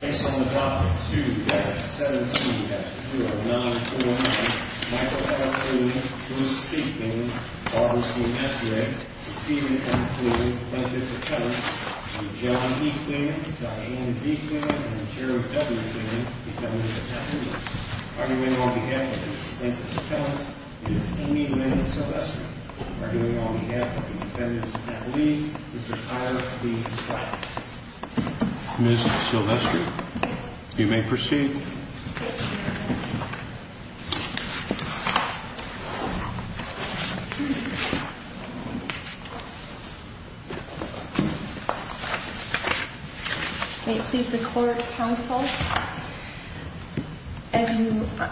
Based on the document 2-17-0949, Michael L. Cleland, Bruce C. Cleland, Barbara C. Messier, Stephen M. Clew, plaintiffs' attorneys, Mr. John E. Cleland, Diana D. Cleland, and Jared W. Cleland, defendants' attorneys, arguing on behalf of the plaintiffs' attorneys, is Amy Lynn Silvestri, arguing on behalf of the defendants' attorneys, Mr. Tyler B. Slatton. Ms. Silvestri, you may proceed. May it please the court, counsel, as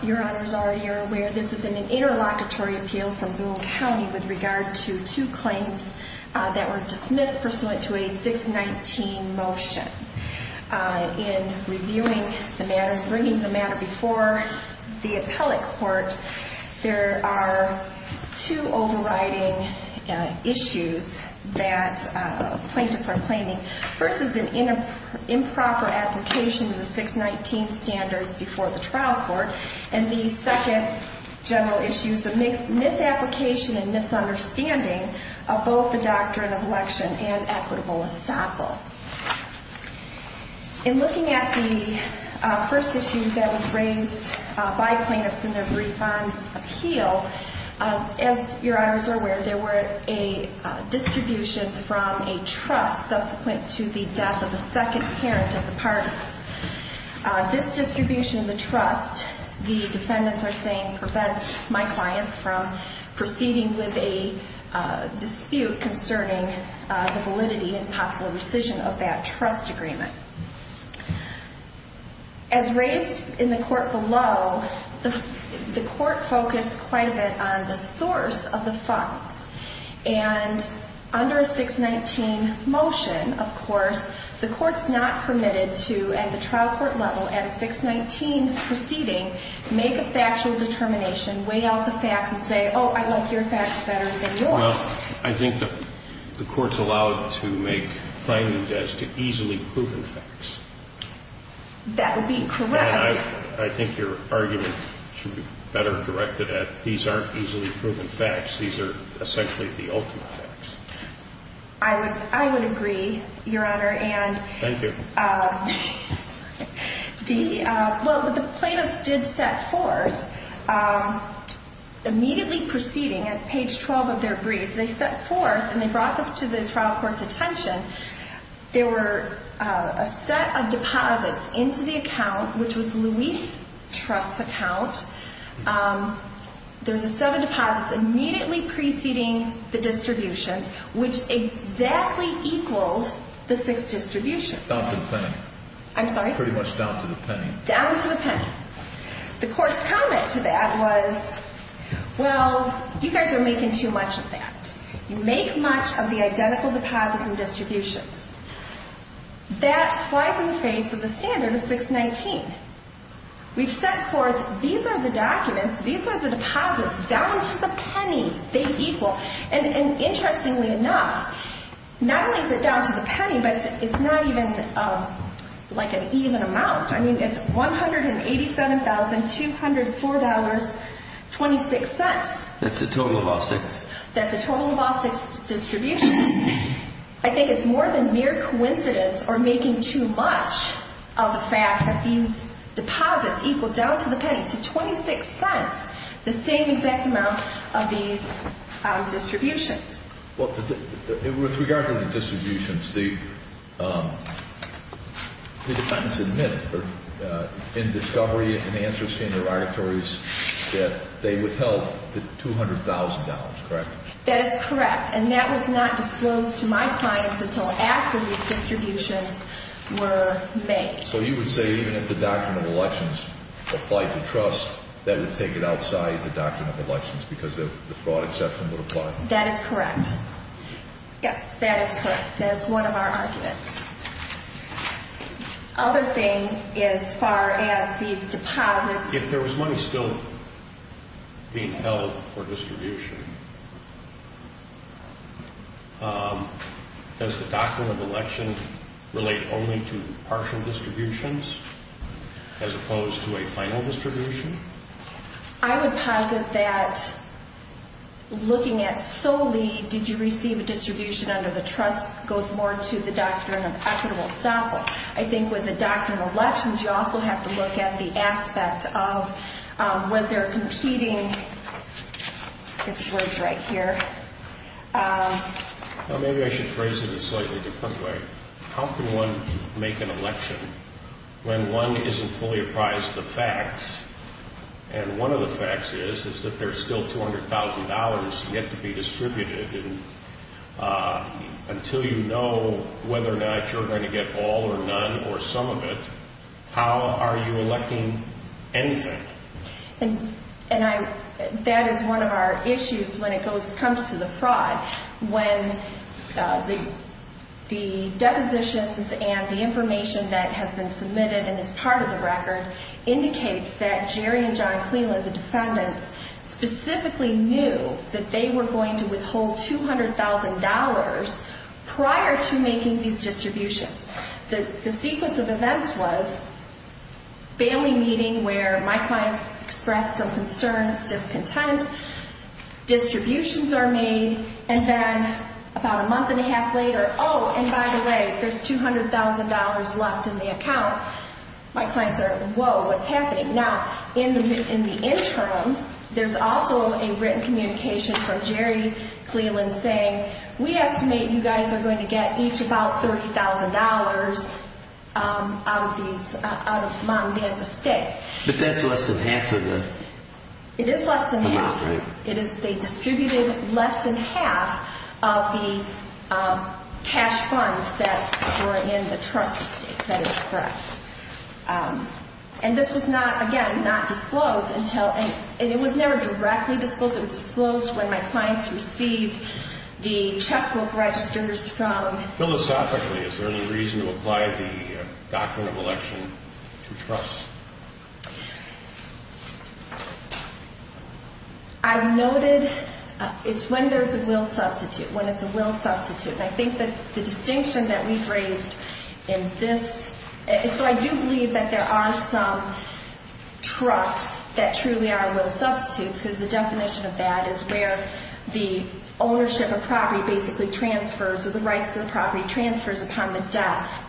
your honors already are aware, this has been an interlocutory appeal from rural county with regard to two claims that were dismissed pursuant to a 619 motion. In reviewing the matter, bringing the matter before the appellate court, there are two overriding issues that plaintiffs are claiming. First is an improper application of the 619 standards before the trial court, and the second general issue is a misapplication and misunderstanding of both the doctrine of election and equitable assemble. In looking at the first issue that was raised by plaintiffs in their brief on appeal, as your honors are aware, there were a distribution from a trust subsequent to the death of the second parent of the parties. This distribution of the trust, the defendants are saying, prevents my clients from proceeding with a dispute concerning the validity and possible rescission of that trust agreement. As raised in the court below, the court focused quite a bit on the source of the fines, and under a 619 motion, of course, the court's not permitted to, at the trial court level, at a 619 proceeding, make a factual determination, weigh out the facts and say, oh, I like your facts better than yours. Well, I think the court's allowed to make findings as to easily proven facts. That would be correct. And I think your argument should be better directed at, these aren't easily proven facts. These are essentially the ultimate facts. I would agree, your honor. Thank you. Well, the plaintiffs did set forth, immediately preceding, at page 12 of their brief, they set forth, and they brought this to the trial court's attention, there were a set of deposits into the account, which was Louise Trust's account. There was a set of deposits immediately preceding the distributions, which exactly equaled the six distributions. Down to the penny. I'm sorry? Pretty much down to the penny. Down to the penny. The court's comment to that was, well, you guys are making too much of that. You make much of the identical deposits and distributions. That flies in the face of the standard of 619. We've set forth, these are the documents, these are the deposits, down to the penny, they equal. And interestingly enough, not only is it down to the penny, but it's not even like an even amount. I mean, it's $187,204.26. That's the total of all six. That's the total of all six distributions. I think it's more than mere coincidence or making too much of the fact that these deposits equal down to the penny to 26 cents, the same exact amount of these distributions. Well, with regard to the distributions, the defendants admit in discovery and answers to interrogatories that they withheld the $200,000, correct? That is correct. And that was not disclosed to my clients until after these distributions were made. So you would say even if the Doctrine of Elections applied to trust, that would take it outside the Doctrine of Elections because the fraud exception would apply? That is correct. Yes, that is correct. That is one of our arguments. Other thing as far as these deposits. If there was money still being held for distribution, does the Doctrine of Elections relate only to partial distributions as opposed to a final distribution? I would posit that looking at solely did you receive a distribution under the trust goes more to the Doctrine of Equitable Settlement. I think with the Doctrine of Elections, you also have to look at the aspect of was there competing... Maybe I should phrase it in a slightly different way. How can one make an election when one isn't fully apprised of the facts? And one of the facts is that there's still $200,000 yet to be distributed. And until you know whether or not you're going to get all or none or some of it, how are you electing anything? And that is one of our issues when it comes to the fraud. When the depositions and the information that has been submitted and is part of the record indicates that Jerry and John Cleland, the defendants, specifically knew that they were going to withhold $200,000 prior to making these distributions. The sequence of events was family meeting where my clients expressed some concerns, discontent, distributions are made, and then about a month and a half later, oh, and by the way, there's $200,000 left in the account. My clients are, whoa, what's happening? Now, in the interim, there's also a written communication from Jerry Cleland saying, we estimate you guys are going to get each about $30,000 out of Mom and Dad's estate. But that's less than half of the amount, right? It is less than half. They distributed less than half of the cash funds that were in the trust estate. That is correct. And this was not, again, not disclosed until, and it was never directly disclosed. It was disclosed when my clients received the checkbook registers from. Philosophically, is there any reason to apply the doctrine of election to trust? I've noted it's when there's a will substitute, when it's a will substitute. And I think that the distinction that we've raised in this, so I do believe that there are some trusts that truly are will substitutes, because the definition of that is where the ownership of property basically transfers, or the rights to the property transfers upon the death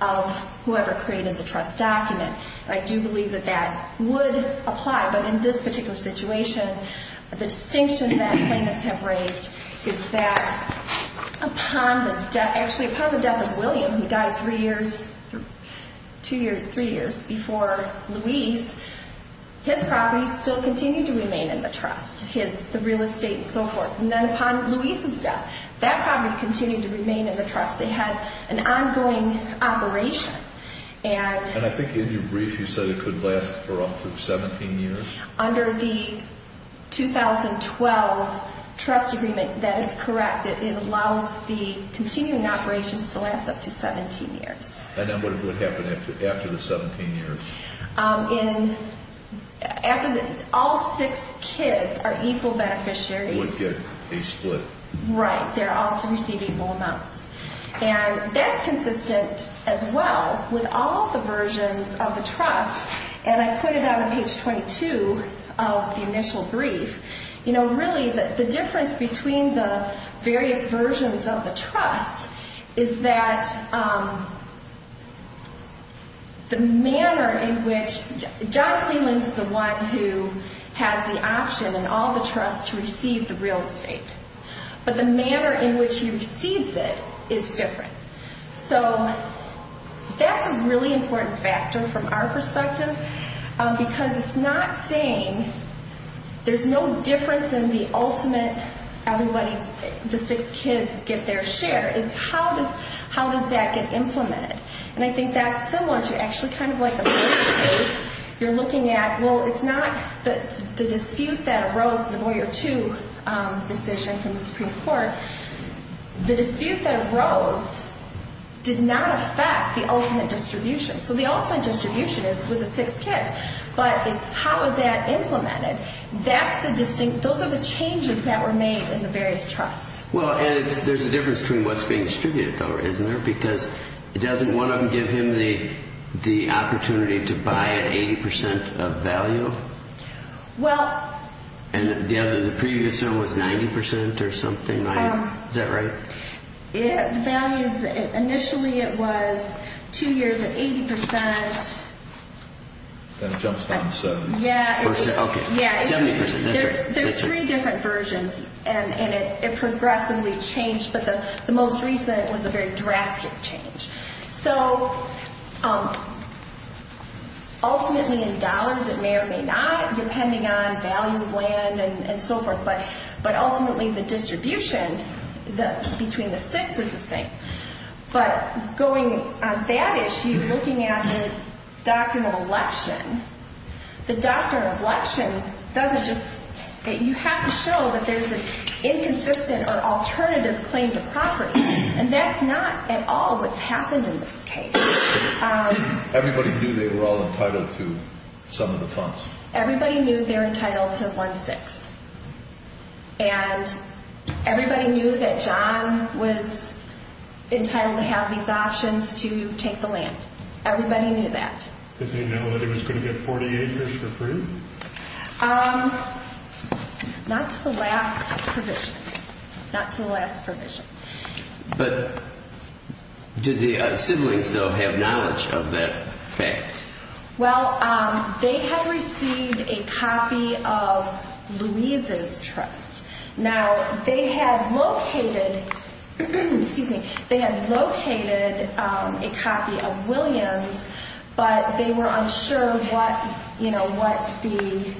of whoever created the trust document. I do believe that that would apply. But in this particular situation, the distinction that clients have raised is that upon the death, actually upon the death of William, who died three years, two years, three years before Luis, his property still continued to remain in the trust. His, the real estate and so forth. And then upon Luis's death, that property continued to remain in the trust. They had an ongoing operation. And I think in your brief you said it could last for up to 17 years? Under the 2012 trust agreement, that is correct. It allows the continuing operations to last up to 17 years. And then what would happen after the 17 years? All six kids are equal beneficiaries. Would get a split. Right. They're all to receive equal amounts. And that's consistent as well with all the versions of the trust. And I put it on page 22 of the initial brief. You know, really the difference between the various versions of the trust is that the manner in which, John Cleland's the one who has the option in all the trusts to receive the real estate. But the manner in which he receives it is different. So that's a really important factor from our perspective. Because it's not saying there's no difference in the ultimate everybody, the six kids get their share. It's how does that get implemented. And I think that's similar to actually kind of like a birth case. You're looking at, well, it's not the dispute that arose, the Boyer 2 decision from the Supreme Court. The dispute that arose did not affect the ultimate distribution. So the ultimate distribution is with the six kids. But it's how is that implemented. That's the distinct, those are the changes that were made in the various trusts. Well, and there's a difference between what's being distributed though, isn't there? Because it doesn't, one of them give him the opportunity to buy at 80% of value. Well. And the other, the previous one was 90% or something, right? Is that right? The value is, initially it was two years at 80%. Then it jumps down to 70%. Yeah. Okay, 70%, that's right. There's three different versions. And it progressively changed, but the most recent was a very drastic change. So ultimately in dollars it may or may not, depending on value of land and so forth. But ultimately the distribution between the six is the same. But going on that issue, looking at the document of election, the document of election doesn't just, you have to show that there's an inconsistent or alternative claim to property. And that's not at all what's happened in this case. Everybody knew they were all entitled to some of the funds. Everybody knew they were entitled to one-sixth. And everybody knew that John was entitled to have these options to take the land. Everybody knew that. Did they know that he was going to get 48 years for free? Not to the last provision. Not to the last provision. But did the siblings, though, have knowledge of that fact? Well, they had received a copy of Louise's trust. Now, they had located, excuse me, they had located a copy of Williams, but they were unsure what the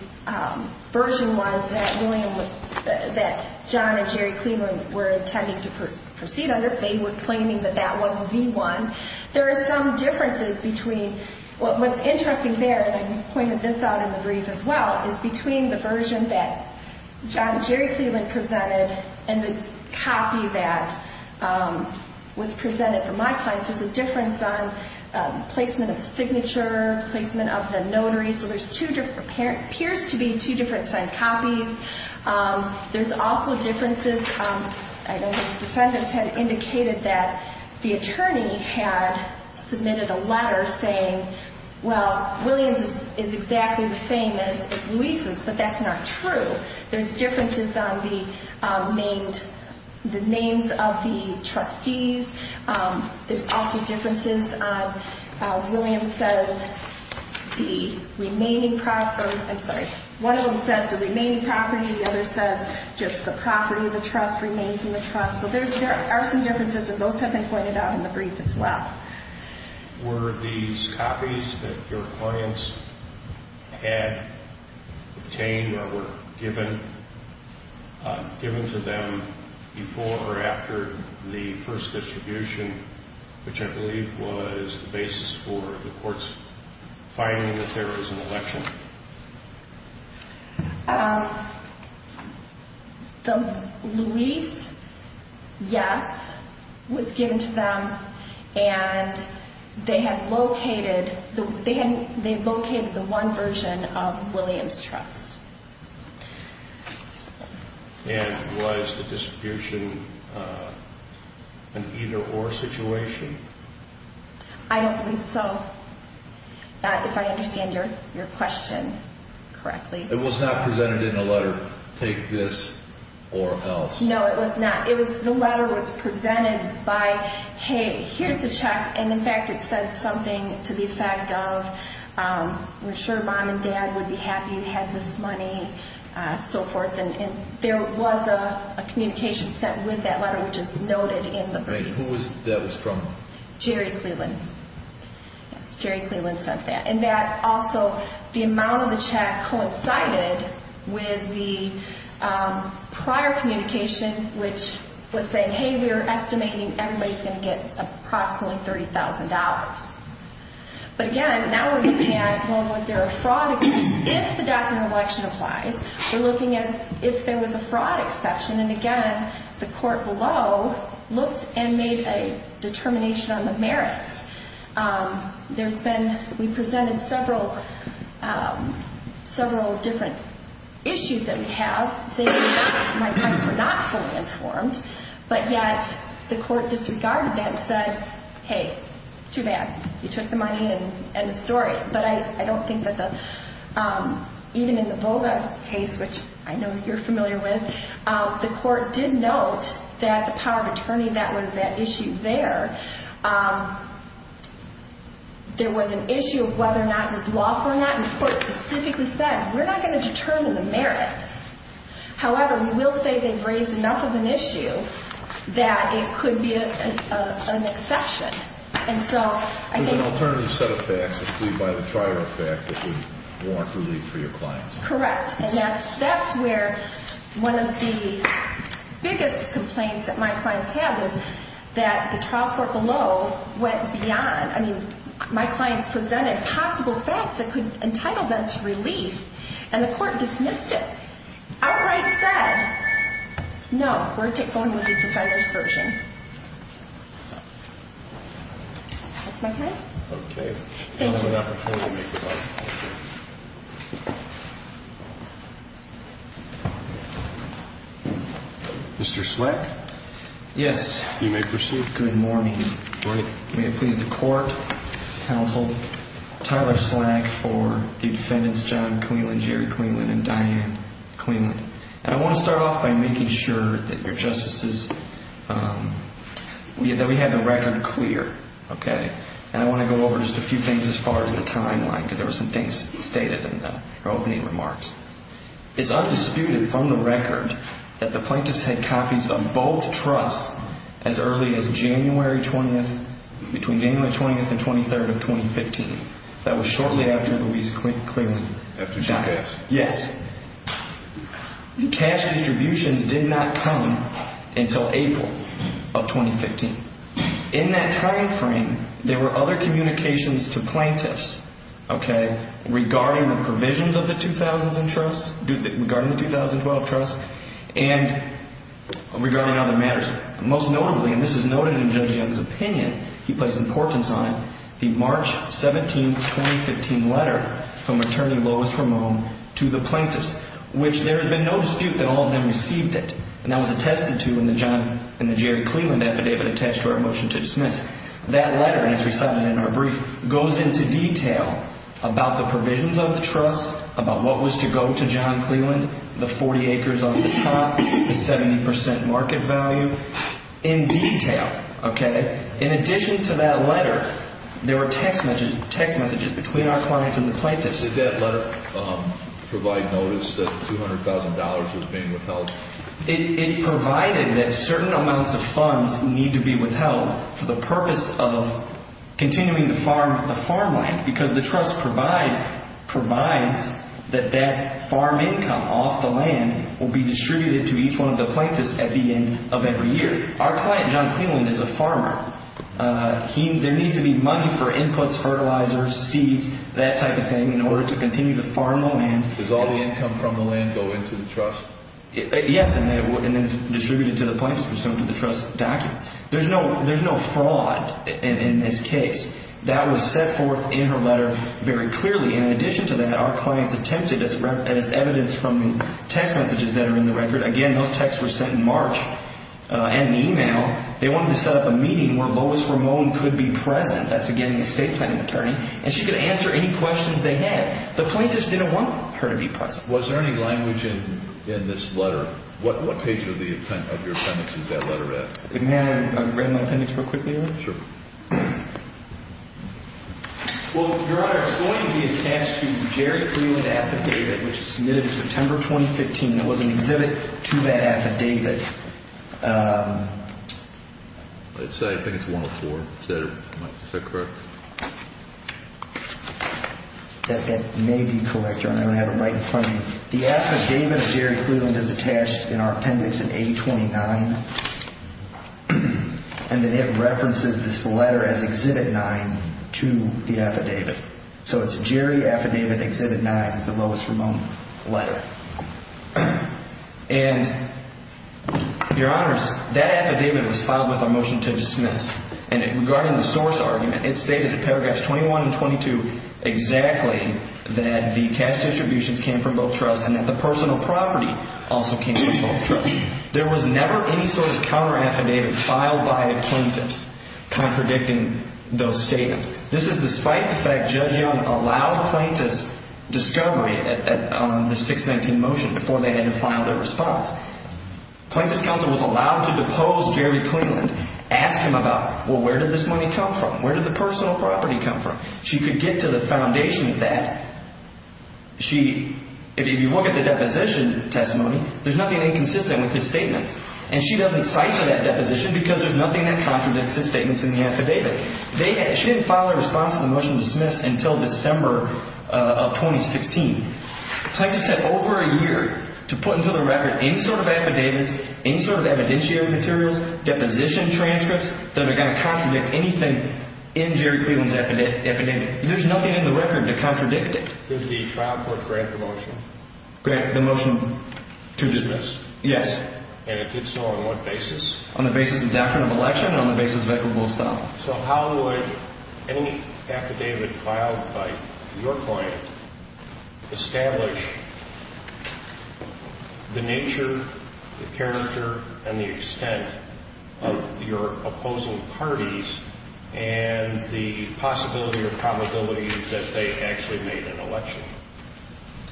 version was that John and Jerry Cleveland were intending to proceed under. They were claiming that that was the one. There are some differences between what's interesting there, and I pointed this out in the brief as well, is between the version that John and Jerry Cleveland presented and the copy that was presented for my clients. There's a difference on placement of signature, placement of the notary. So there appears to be two different signed copies. There's also differences. Defendants had indicated that the attorney had submitted a letter saying, well, Williams is exactly the same as Louise's, but that's not true. There's differences on the names of the trustees. There's also differences on how Williams says the remaining property. I'm sorry. One of them says the remaining property. The other says just the property of the trust remains in the trust. So there are some differences, and those have been pointed out in the brief as well. Were these copies that your clients had obtained or were given to them before or after the first distribution, which I believe was the basis for the court's finding that there was an election? The Louise, yes, was given to them, and they had located the one version of Williams Trust. And was the distribution an either-or situation? I don't believe so. If I understand your question correctly. It was not presented in a letter, take this or else. No, it was not. The letter was presented by, hey, here's the check. And, in fact, it said something to the effect of, we're sure Mom and Dad would be happy you had this money, so forth. And there was a communication sent with that letter, which is noted in the brief. Who was that from? Jerry Cleland. Yes, Jerry Cleland sent that. And that also, the amount of the check coincided with the prior communication, which was saying, hey, we're estimating everybody's going to get approximately $30,000. But, again, now we're looking at, well, was there a fraud? If the document of election applies, we're looking at if there was a fraud exception. And, again, the court below looked and made a determination on the merits. There's been, we presented several different issues that we have, saying my parents were not fully informed. But yet the court disregarded that and said, hey, too bad. You took the money and the story. But I don't think that the, even in the Volga case, which I know you're familiar with, the court did note that the power of attorney that was at issue there, there was an issue of whether or not it was lawful or not. And the court specifically said, we're not going to determine the merits. However, we will say they've raised enough of an issue that it could be an exception. There's an alternative set of facts, including the trial court fact, that would warrant relief for your clients. Correct. And that's where one of the biggest complaints that my clients have is that the trial court below went beyond. I mean, my clients presented possible facts that could entitle them to relief. And the court dismissed it. Outright said, no, we're going with the defendant's version. That's my time. Okay. Thank you. Mr. Slack? Yes. You may proceed. Good morning. Morning. May it please the court, counsel, Tyler Slack for the defendants, John Cleland, Jerry Cleland, and Diane Cleland. And I want to start off by making sure that your justices, that we have the record clear, okay? And I want to go over just a few things as far as the timeline, because there were some things stated in the opening remarks. It's undisputed from the record that the plaintiffs had copies of both trusts as early as January 20th, between January 20th and 23rd of 2015. That was shortly after Louise Cleland died. After she passed. Yes. The cash distributions did not come until April of 2015. In that timeframe, there were other communications to plaintiffs, okay, regarding the provisions of the 2000s in trusts, regarding the 2012 trusts, and regarding other matters. Most notably, and this is noted in Judge Young's opinion, he placed importance on it, the March 17th, 2015 letter from Attorney Lois Ramon to the plaintiffs, which there has been no dispute that all of them received it. And that was attested to in the Jerry Cleland affidavit attached to our motion to dismiss. That letter, as we cited in our brief, goes into detail about the provisions of the trust, about what was to go to John Cleland, the 40 acres on the top, the 70% market value, in detail, okay? In addition to that letter, there were text messages between our clients and the plaintiffs. Did that letter provide notice that $200,000 was being withheld? It provided that certain amounts of funds need to be withheld for the purpose of continuing to farm the farmland, because the trust provides that that farm income off the land will be distributed to each one of the plaintiffs at the end of every year. Our client, John Cleland, is a farmer. There needs to be money for inputs, fertilizers, seeds, that type of thing, in order to continue to farm the land. Does all the income from the land go into the trust? Yes, and then it's distributed to the plaintiffs, which goes to the trust documents. There's no fraud in this case. That was set forth in her letter very clearly. And in addition to that, our clients attempted, as evidenced from the text messages that are in the record, again, those texts were sent in March, and in email. They wanted to set up a meeting where Lois Ramon could be present. That's, again, the estate planning attorney. And she could answer any questions they had. The plaintiffs didn't want her to be present. Was there any language in this letter? What page of your appendix is that letter at? May I read my appendix real quickly? Sure. Well, Your Honor, it's going to be attached to Jerry Cleland Affidavit, which was submitted in September 2015. It was an exhibit to that affidavit. I think it's 104. Is that correct? That may be correct, Your Honor. I have it right in front of me. The affidavit of Jerry Cleland is attached in our appendix in A29. And then it references this letter as Exhibit 9 to the affidavit. So it's Jerry Affidavit, Exhibit 9. It's the Lois Ramon letter. And, Your Honors, that affidavit was filed with a motion to dismiss. And regarding the source argument, it stated in paragraphs 21 and 22 exactly that the cash distributions came from both trusts and that the personal property also came from both trusts. There was never any sort of counteraffidavit filed by a plaintiff contradicting those statements. This is despite the fact Judge Young allowed plaintiffs discovery on the 619 motion before they had to file their response. Plaintiff's counsel was allowed to depose Jerry Cleland, ask him about, well, where did this money come from? Where did the personal property come from? She could get to the foundation of that. If you look at the deposition testimony, there's nothing inconsistent with his statements. And she doesn't cipher that deposition because there's nothing that contradicts his statements in the affidavit. She didn't file a response to the motion to dismiss until December of 2016. Plaintiffs had over a year to put into the record any sort of affidavits, any sort of evidentiary materials, deposition transcripts that are going to contradict anything in Jerry Cleland's affidavit. There's nothing in the record to contradict it. Did the trial court grant the motion? Grant the motion to dismiss, yes. And it did so on what basis? On the basis of doctrine of election and on the basis of equitable style. So how would any affidavit filed by your client establish the nature, the character, and the extent of your opposing parties and the possibility or probability that they actually made an election?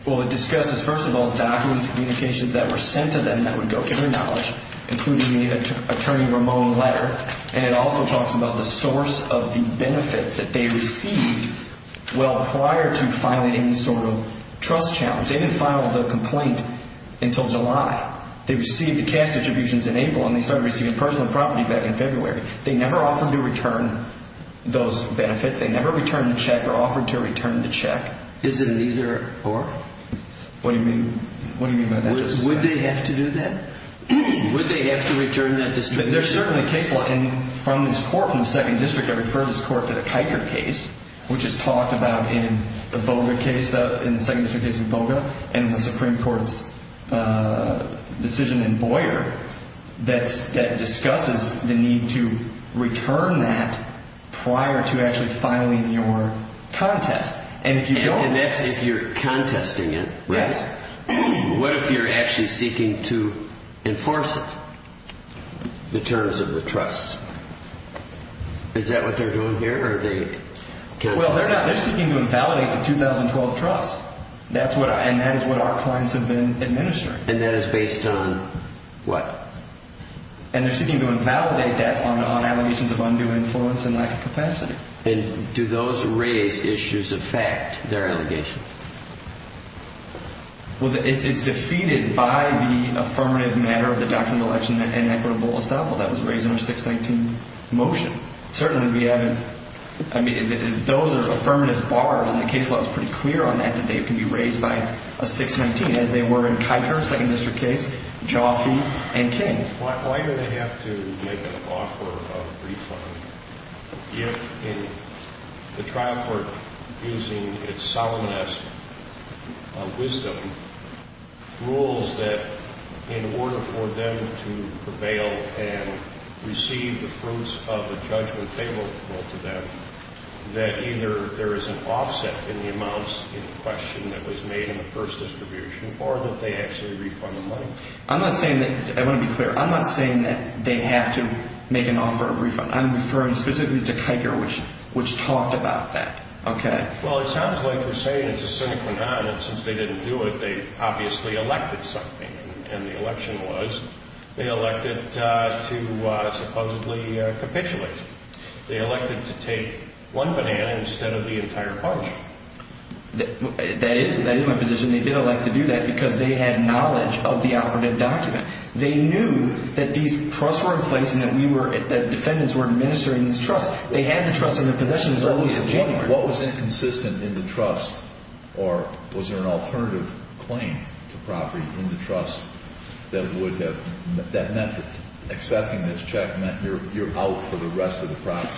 Well, it discusses, first of all, documents, communications that were sent to them that would go to their knowledge, including the Attorney Ramone letter. And it also talks about the source of the benefits that they received well prior to filing any sort of trust challenge. They didn't file the complaint until July. They received the cash distributions in April, and they started receiving personal property back in February. They never offered to return those benefits. They never returned the check or offered to return the check. Is it an either-or? What do you mean? What do you mean by that? Would they have to do that? Would they have to return that distribution? They're certainly case law. And from this court, from the Second District, I refer this court to the Kiker case, which is talked about in the Volga case, in the Second District case in Volga, and the Supreme Court's decision in Boyer that discusses the need to return that prior to actually filing your contest. And if you don't... And that's if you're contesting it, right? Yes. What if you're actually seeking to enforce it, the terms of the trust? Is that what they're doing here, or are they... Well, they're not. They're seeking to invalidate the 2012 trust, and that is what our clients have been administering. And that is based on what? And they're seeking to invalidate that on allegations of undue influence and lack of capacity. And do those raised issues affect their allegations? Well, it's defeated by the affirmative matter of the doctrine of election and equitable estoppel. That was raised in our 619 motion. Certainly, we haven't... I mean, those are affirmative bars, and the case law is pretty clear on that, that they can be raised by a 619, as they were in Kiker, Second District case, Jaffe, and Ting. Why do they have to make an offer of refund if, in the trial court, using its solemnness of wisdom, rules that in order for them to prevail and receive the fruits of a judgment favorable to them, that either there is an offset in the amounts in question that was made in the first distribution or that they actually refund the money? I'm not saying that... I want to be clear. I'm not saying that they have to make an offer of refund. I'm referring specifically to Kiker, which talked about that, okay? Well, it sounds like they're saying it's a sine qua non, and since they didn't do it, they obviously elected something. And the election was they elected to supposedly capitulate. They elected to take one banana instead of the entire bunch. That is my position. And they did elect to do that because they had knowledge of the operative document. They knew that these trusts were in place and that defendants were administering these trusts. They had the trusts in their possession as early as January. What was inconsistent in the trust, or was there an alternative claim to property in the trust that meant that accepting this check meant you're out for the rest of the property?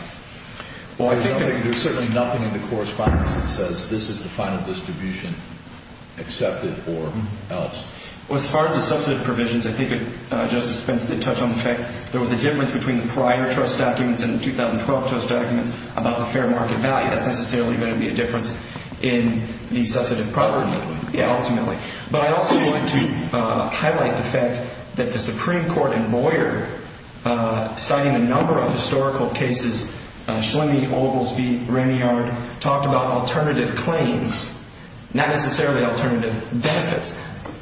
Well, I think that... There's certainly nothing in the correspondence that says this is the final distribution, accepted or else. Well, as far as the substantive provisions, I think Justice Spence did touch on the fact there was a difference between the prior trust documents and the 2012 trust documents about the fair market value. That's necessarily going to be a difference in the substantive property. Yeah, ultimately. But I also wanted to highlight the fact that the Supreme Court in Boyer, citing a number of historical cases, Schlemy, Oglesby, Raneyard, talked about alternative claims, not necessarily alternative benefits.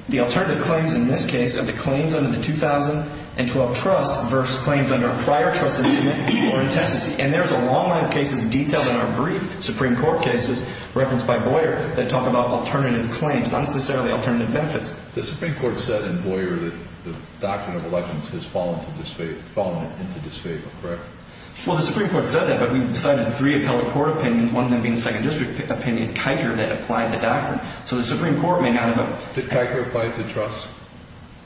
The alternative claims in this case are the claims under the 2012 trust versus claims under a prior trust in Tennessee. And there's a long line of cases detailed in our brief Supreme Court cases referenced by Boyer that talk about alternative claims, not necessarily alternative benefits. The Supreme Court said in Boyer that the doctrine of elections has fallen into disfavor, correct? Well, the Supreme Court said that, but we've cited three appellate court opinions, one of them being a second district opinion, Kiker, that applied the doctrine. So the Supreme Court may not have... Did Kiker apply it to trust?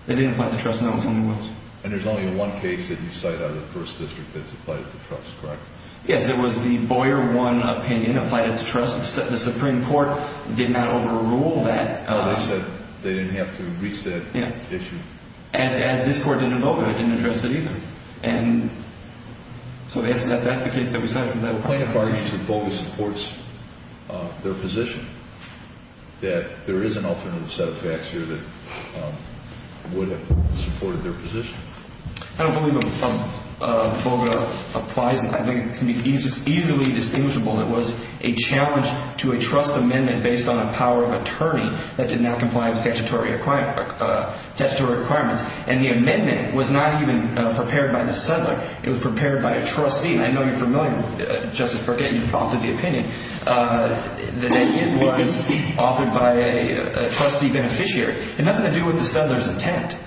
They didn't apply it to trust, no. It was only once. And there's only one case that you cite out of the first district that's applied it to trust, correct? Yes, it was the Boyer 1 opinion applied it to trust. The Supreme Court did not overrule that. No, they said they didn't have to reach that issue. And this Court didn't overrule it. It didn't address it either. And so that's the case that we cited. The plaintiff argues that BOGA supports their position, that there is an alternative set of facts here that would have supported their position. I don't believe BOGA applies. I think it can be easily distinguishable that it was a challenge to a trust amendment based on a power of attorney that did not comply with statutory requirements. And the amendment was not even prepared by the settler. It was prepared by a trustee. And I know you're familiar, Justice Burkett, you've authored the opinion, that it was authored by a trustee beneficiary. It had nothing to do with the settler's intent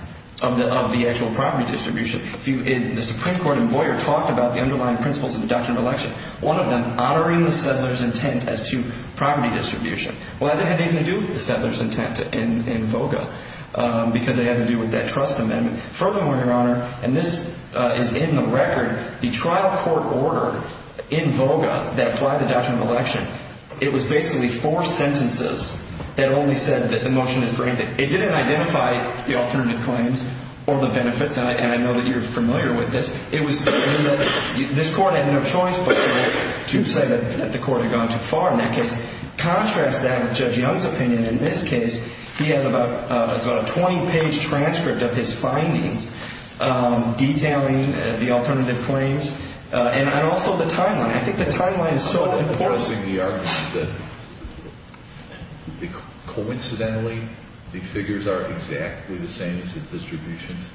of the actual property distribution. The Supreme Court in Boyer talked about the underlying principles of the doctrine of election. One of them, honoring the settler's intent as to property distribution. Well, that didn't have anything to do with the settler's intent in BOGA because it had to do with that trust amendment. Furthermore, Your Honor, and this is in the record, the trial court order in BOGA that applied the doctrine of election, it was basically four sentences that only said that the motion is granted. It didn't identify the alternative claims or the benefits, and I know that you're familiar with this. This court had no choice but to say that the court had gone too far in that case. Contrast that with Judge Young's opinion in this case. He has about a 20-page transcript of his findings detailing the alternative claims and also the timeline. I think the timeline is so important. Are you addressing the argument that coincidentally the figures are exactly the same as the distributions?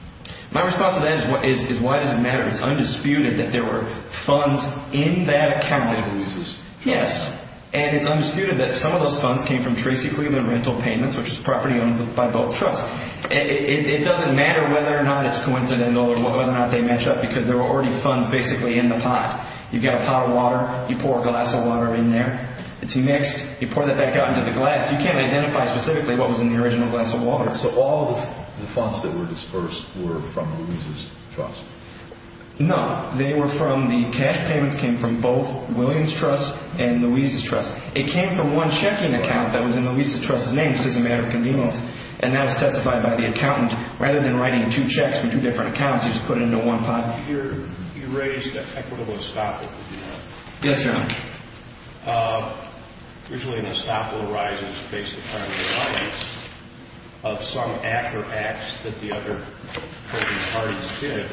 My response to that is why does it matter? It's undisputed that there were funds in that account. Which were useless. Yes, and it's undisputed that some of those funds came from Tracy Cleveland rental payments, which is property owned by both trusts. It doesn't matter whether or not it's coincidental or whether or not they match up because there were already funds basically in the pot. You've got a pot of water. You pour a glass of water in there. It's mixed. You pour that back out into the glass. You can't identify specifically what was in the original glass of water. So all of the funds that were dispersed were from Louise's trust? No. They were from the cash payments came from both Williams' trust and Louise's trust. It came from one checking account that was in Louise's trust's name. This is a matter of convenience. And that was testified by the accountant. Rather than writing two checks for two different accounts, he just put it into one pot. You raised equitable estoppel. Yes, Your Honor. Usually an estoppel arises based upon the evidence of some act or acts that the other parties did.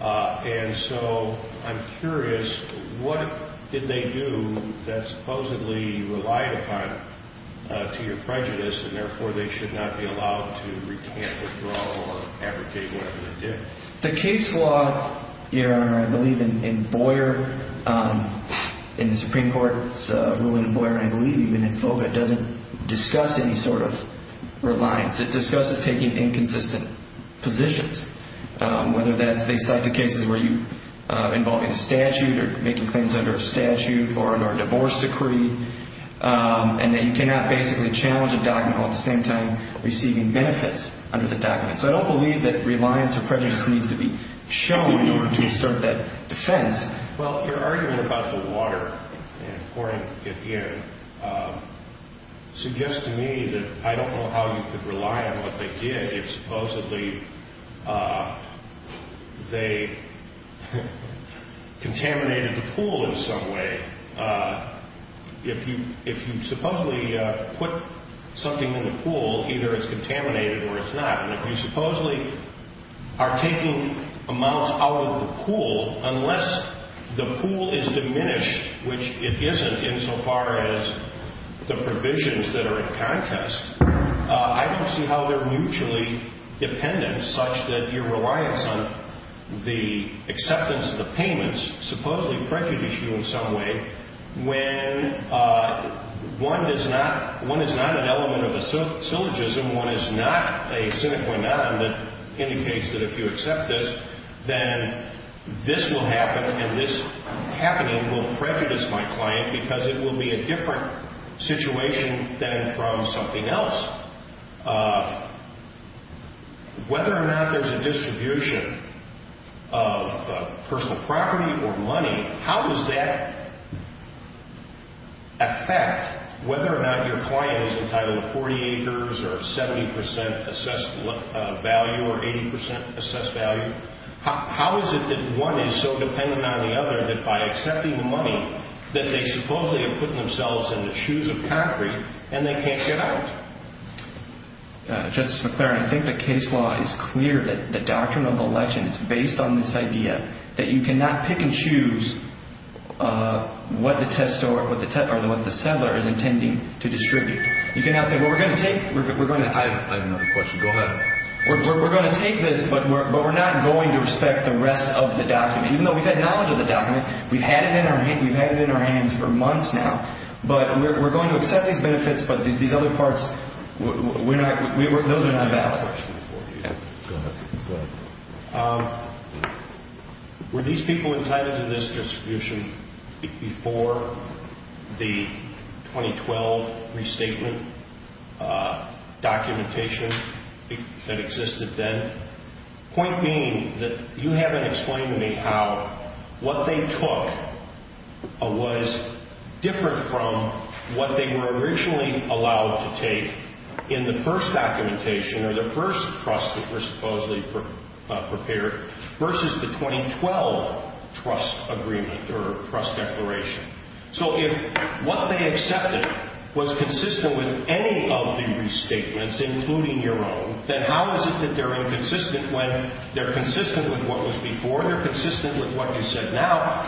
And so I'm curious, what did they do that supposedly relied upon to your prejudice and therefore they should not be allowed to recant, withdraw, or abrogate whatever they did? The case law, Your Honor, I believe in Boyer, in the Supreme Court's ruling in Boyer, I believe, and in FOGA, doesn't discuss any sort of reliance. It discusses taking inconsistent positions, whether that's they cite the cases where you involve in a statute or making claims under a statute or under a divorce decree, and that you cannot basically challenge a document while at the same time receiving benefits under the document. So I don't believe that reliance or prejudice needs to be shown in order to assert that defense. Well, your argument about the water and pouring it in suggests to me that I don't know how you could rely on what they did if supposedly they contaminated the pool in some way. If you supposedly put something in the pool, either it's contaminated or it's not. If you supposedly are taking amounts out of the pool, unless the pool is diminished, which it isn't insofar as the provisions that are in contest, I don't see how they're mutually dependent such that your reliance on the acceptance of the payments supposedly prejudice you in some way when one is not an element of a syllogism, when one is not a sine qua non that indicates that if you accept this, then this will happen and this happening will prejudice my client because it will be a different situation than from something else. Whether or not there's a distribution of personal property or money, how does that affect whether or not your client is entitled to 40 acres or 70% assessed value or 80% assessed value? How is it that one is so dependent on the other that by accepting the money, that they supposedly are putting themselves in the shoes of concrete and they can't get out? Justice McClaren, I think the case law is clear that the doctrine of election is based on this idea that you cannot pick and choose what the seller is intending to distribute. We're going to take this, but we're not going to respect the rest of the document, even though we've had knowledge of the document. We've had it in our hands for months now, but we're going to accept these benefits, but these other parts, those are not valid. Were these people entitled to this distribution before the 2012 restatement documentation that existed then? Point being that you haven't explained to me how what they took was different from what they were originally allowed to take in the first documentation or the first trust that was supposedly prepared versus the 2012 trust agreement or trust declaration. So if what they accepted was consistent with any of the restatements, including your own, then how is it that they're inconsistent when they're consistent with what was before and they're consistent with what you said now?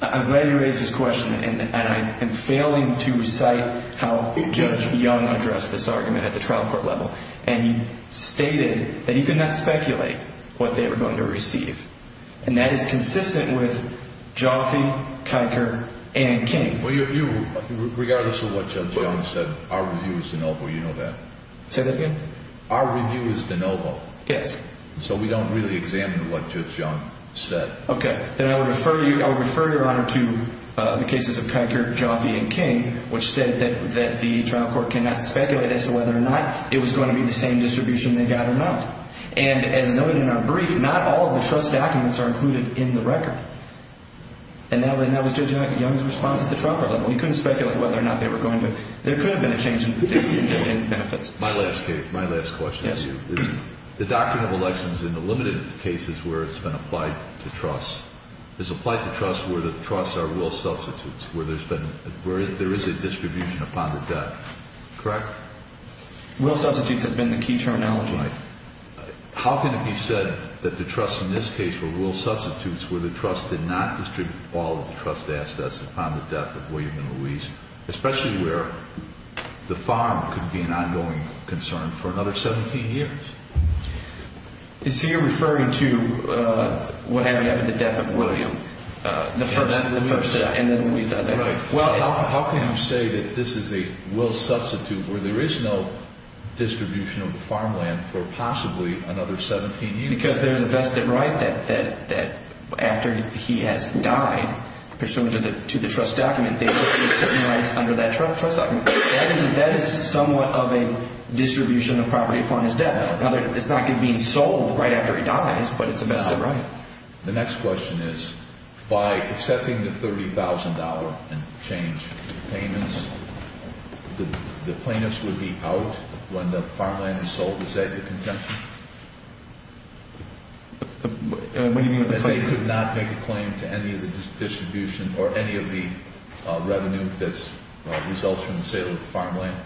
I'm glad you raised this question, and I am failing to recite how Judge Young addressed this argument at the trial court level, and he stated that he could not speculate what they were going to receive, and that is consistent with Jonathan, Kiker, and King. Regardless of what Judge Young said, our review is de novo. You know that. Say that again? Our review is de novo. Yes. So we don't really examine what Judge Young said. Okay. Then I would refer your Honor to the cases of Kiker, Jaffe, and King, which said that the trial court cannot speculate as to whether or not it was going to be the same distribution they got or not. And as noted in our brief, not all of the trust documents are included in the record. And that was Judge Young's response at the trial court level. He couldn't speculate whether or not they were going to. There could have been a change in benefits. My last question to you is the doctrine of elections in the limited cases where it's been applied to trusts is applied to trusts where the trusts are rule substitutes, where there is a distribution upon the death. Correct? Rule substitutes has been the key terminology. Right. How can it be said that the trusts in this case were rule substitutes where the trust did not distribute all of the trust assets upon the death of William and Louise, especially where the farm could be an ongoing concern for another 17 years? So you're referring to what happened after the death of William? Absolutely. And then Louise died later. Right. Well, how can you say that this is a rule substitute where there is no distribution of the farmland for possibly another 17 years? Because there's a vested right that after he has died, pursuant to the trust document, they receive certain rights under that trust document. That is somewhat of a distribution of property upon his death. It's not being sold right after he dies, but it's a vested right. The next question is by accepting the $30,000 and change payments, the plaintiffs would be out when the farmland is sold. Is that the contention? What do you mean by the claim? That they could not make a claim to any of the distribution or any of the revenue that results from the sale of the farmland.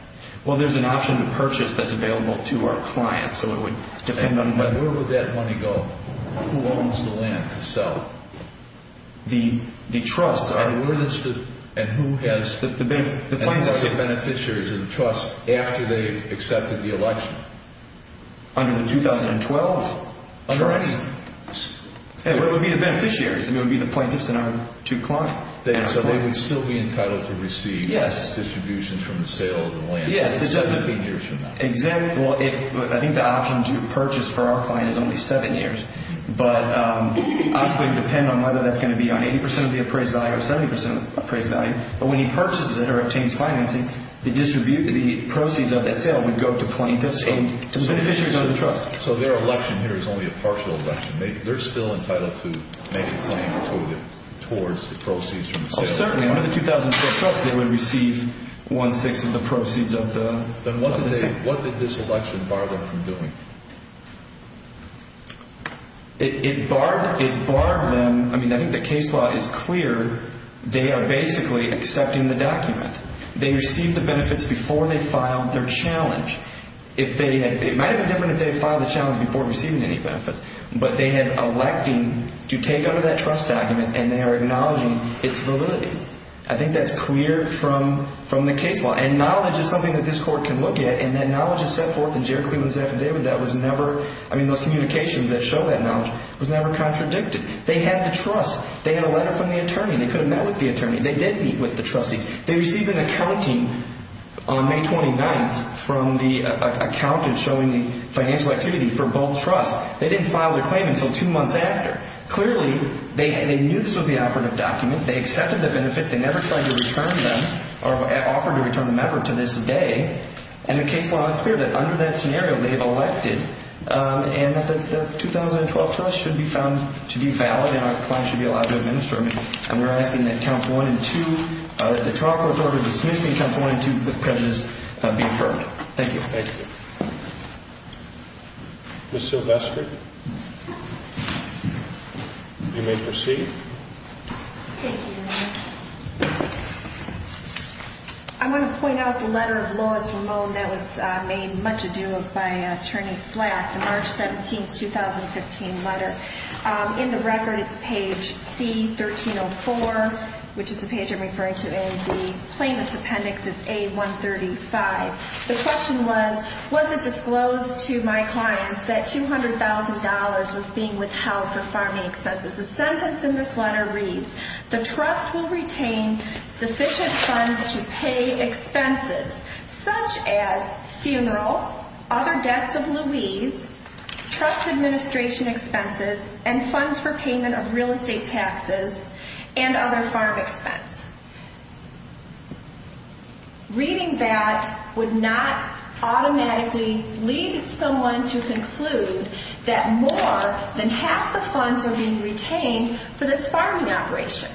Well, there's an option to purchase that's available to our clients, so it would depend on whether. And where would that money go? Who owns the land to sell? The trusts. And who has the beneficiaries of the trust after they've accepted the election? Under the 2012 trust? Correct. What would be the beneficiaries? I mean, it would be the plaintiffs and our two clients. So they would still be entitled to receive distributions from the sale of the land 17 years from now. I think the option to purchase for our client is only seven years, but it would depend on whether that's going to be on 80% of the appraised value or 70% of the appraised value. But when he purchases it or obtains financing, the proceeds of that sale would go to plaintiffs and to the beneficiaries of the trust. So their election here is only a partial election. They're still entitled to make a claim towards the proceeds from the sale. Certainly. Under the 2012 trust, they would receive one-sixth of the proceeds of the sale. Then what did this election bar them from doing? It barred them. I mean, I think the case law is clear. They are basically accepting the document. They received the benefits before they filed their challenge. It might have been different if they had filed the challenge before receiving any benefits. But they have elected to take out of that trust document, and they are acknowledging its validity. I think that's clear from the case law. And knowledge is something that this court can look at, and that knowledge is set forth in Jarrett Cleveland's affidavit. That was never – I mean, those communications that show that knowledge was never contradicted. They had the trust. They had a letter from the attorney. They could have met with the attorney. They did meet with the trustees. They received an accounting on May 29th from the accountant showing the financial activity for both trusts. They didn't file their claim until two months after. Clearly, they knew this was the operative document. They accepted the benefit. They never tried to return them or offered to return them ever to this day. And the case law is clear that under that scenario, they have elected, and that the 2012 trust should be found to be valid and our claim should be allowed to administer. And we're asking that Counts 1 and 2 – that the trial court order dismissing Counts 1 and 2 of the prejudice be affirmed. Thank you. Ms. Silvestre, you may proceed. Thank you. I want to point out the letter of Lois Ramon that was made much ado of by Attorney Slack, the March 17th, 2015 letter. In the record, it's page C-1304, which is the page I'm referring to in the plaintiff's appendix. It's A-135. The question was, was it disclosed to my clients that $200,000 was being withheld for farming expenses? The sentence in this letter reads, the trust will retain sufficient funds to pay expenses such as funeral, other debts of Lois, trust administration expenses, and funds for payment of real estate taxes and other farm expense. Reading that would not automatically lead someone to conclude that more than half the funds are being retained for this farming operation.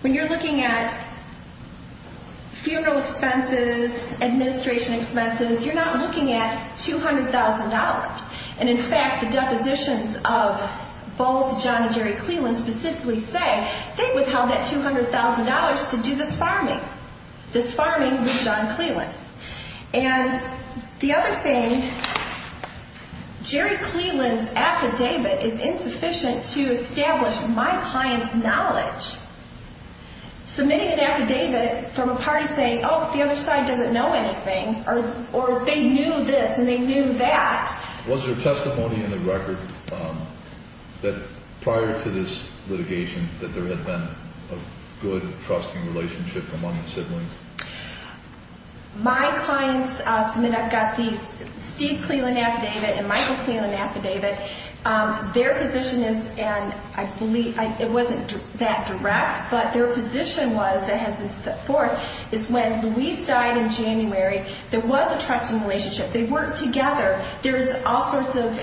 When you're looking at funeral expenses, administration expenses, you're not looking at $200,000. And in fact, the depositions of both John and Jerry Cleland specifically say they withheld that $200,000 to do this farming. This farming with John Cleland. And the other thing, Jerry Cleveland's affidavit is insufficient to establish my client's knowledge. Submitting an affidavit from a party saying, oh, the other side doesn't know anything, or they knew this and they knew that. Was there testimony in the record that prior to this litigation that there had been a good trusting relationship among the siblings? My clients submit, I've got these, Steve Cleland affidavit and Michael Cleland affidavit. Their position is, and I believe, it wasn't that direct, but their position was, it has been set forth, is when Louise died in January, there was a trusting relationship. They worked together. There's all sorts of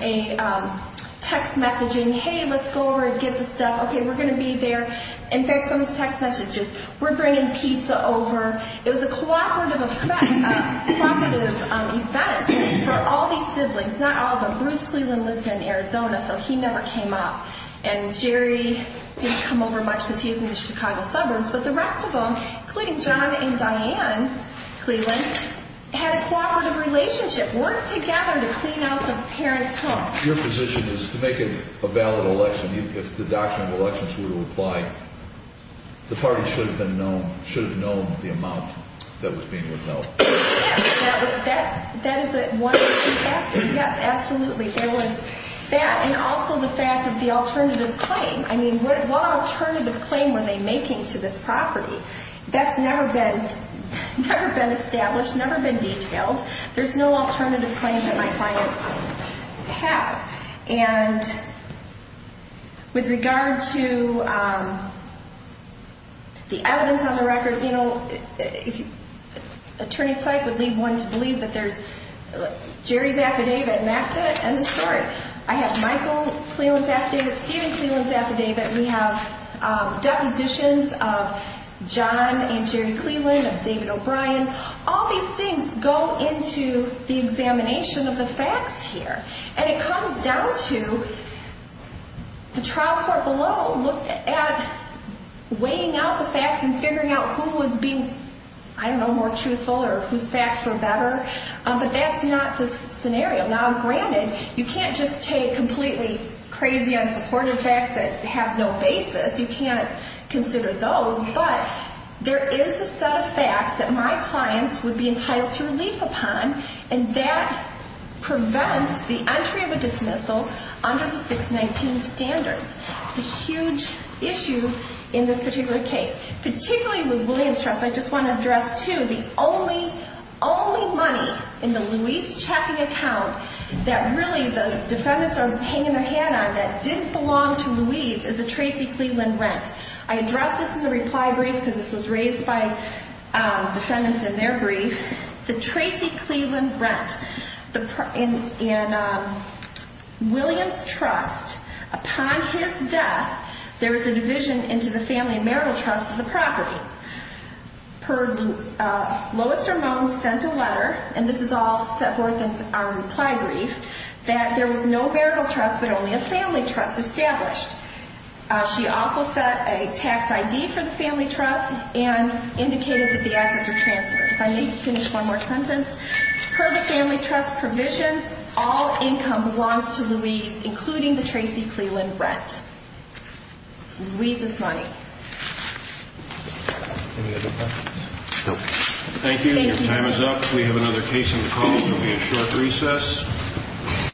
text messaging, hey, let's go over and get the stuff. Okay, we're going to be there. In fact, some of these text messages, we're bringing pizza over. It was a cooperative event for all these siblings. Not all of them. Bruce Cleveland lives in Arizona, so he never came up. And Jerry didn't come over much because he's in the Chicago suburbs. But the rest of them, including John and Diane Cleveland, had a cooperative relationship, worked together to clean out the parents' home. Your position is to make it a valid election, if the doctrine of elections were to apply, the party should have known the amount that was being withheld. Yes, that is one of the factors. Yes, absolutely. And also the fact of the alternative claim. I mean, what alternative claim were they making to this property? That's never been established, never been detailed. There's no alternative claim that my clients have. Attorney's site would leave one to believe that there's Jerry's affidavit, and that's it. End of story. I have Michael Cleveland's affidavit, Stephen Cleveland's affidavit. We have depositions of John and Jerry Cleveland, of David O'Brien. All these things go into the examination of the facts here. And it comes down to the trial court below looked at weighing out the facts and figuring out who was being, I don't know, more truthful or whose facts were better. But that's not the scenario. Now, granted, you can't just take completely crazy, unsupported facts that have no basis. You can't consider those. But there is a set of facts that my clients would be entitled to relief upon, and that prevents the entry of a dismissal under the 619 standards. It's a huge issue in this particular case, particularly with Williams Trust. I just want to address, too, the only money in the Louise checking account that really the defendants are hanging their head on that didn't belong to Louise is a Tracy Cleveland rent. I addressed this in the reply brief because this was raised by defendants in their brief. The Tracy Cleveland rent in Williams Trust, upon his death, there was a division into the family and marital trust of the property. Lois Ramone sent a letter, and this is all set forth in our reply brief, that there was no marital trust but only a family trust established. She also set a tax ID for the family trust and indicated that the assets were transferred. If I may finish one more sentence, per the family trust provisions, all income belongs to Louise, including the Tracy Cleveland rent. It's Louise's money. Any other questions? Thank you. Your time is up. We have another case in the call. There will be a short recess.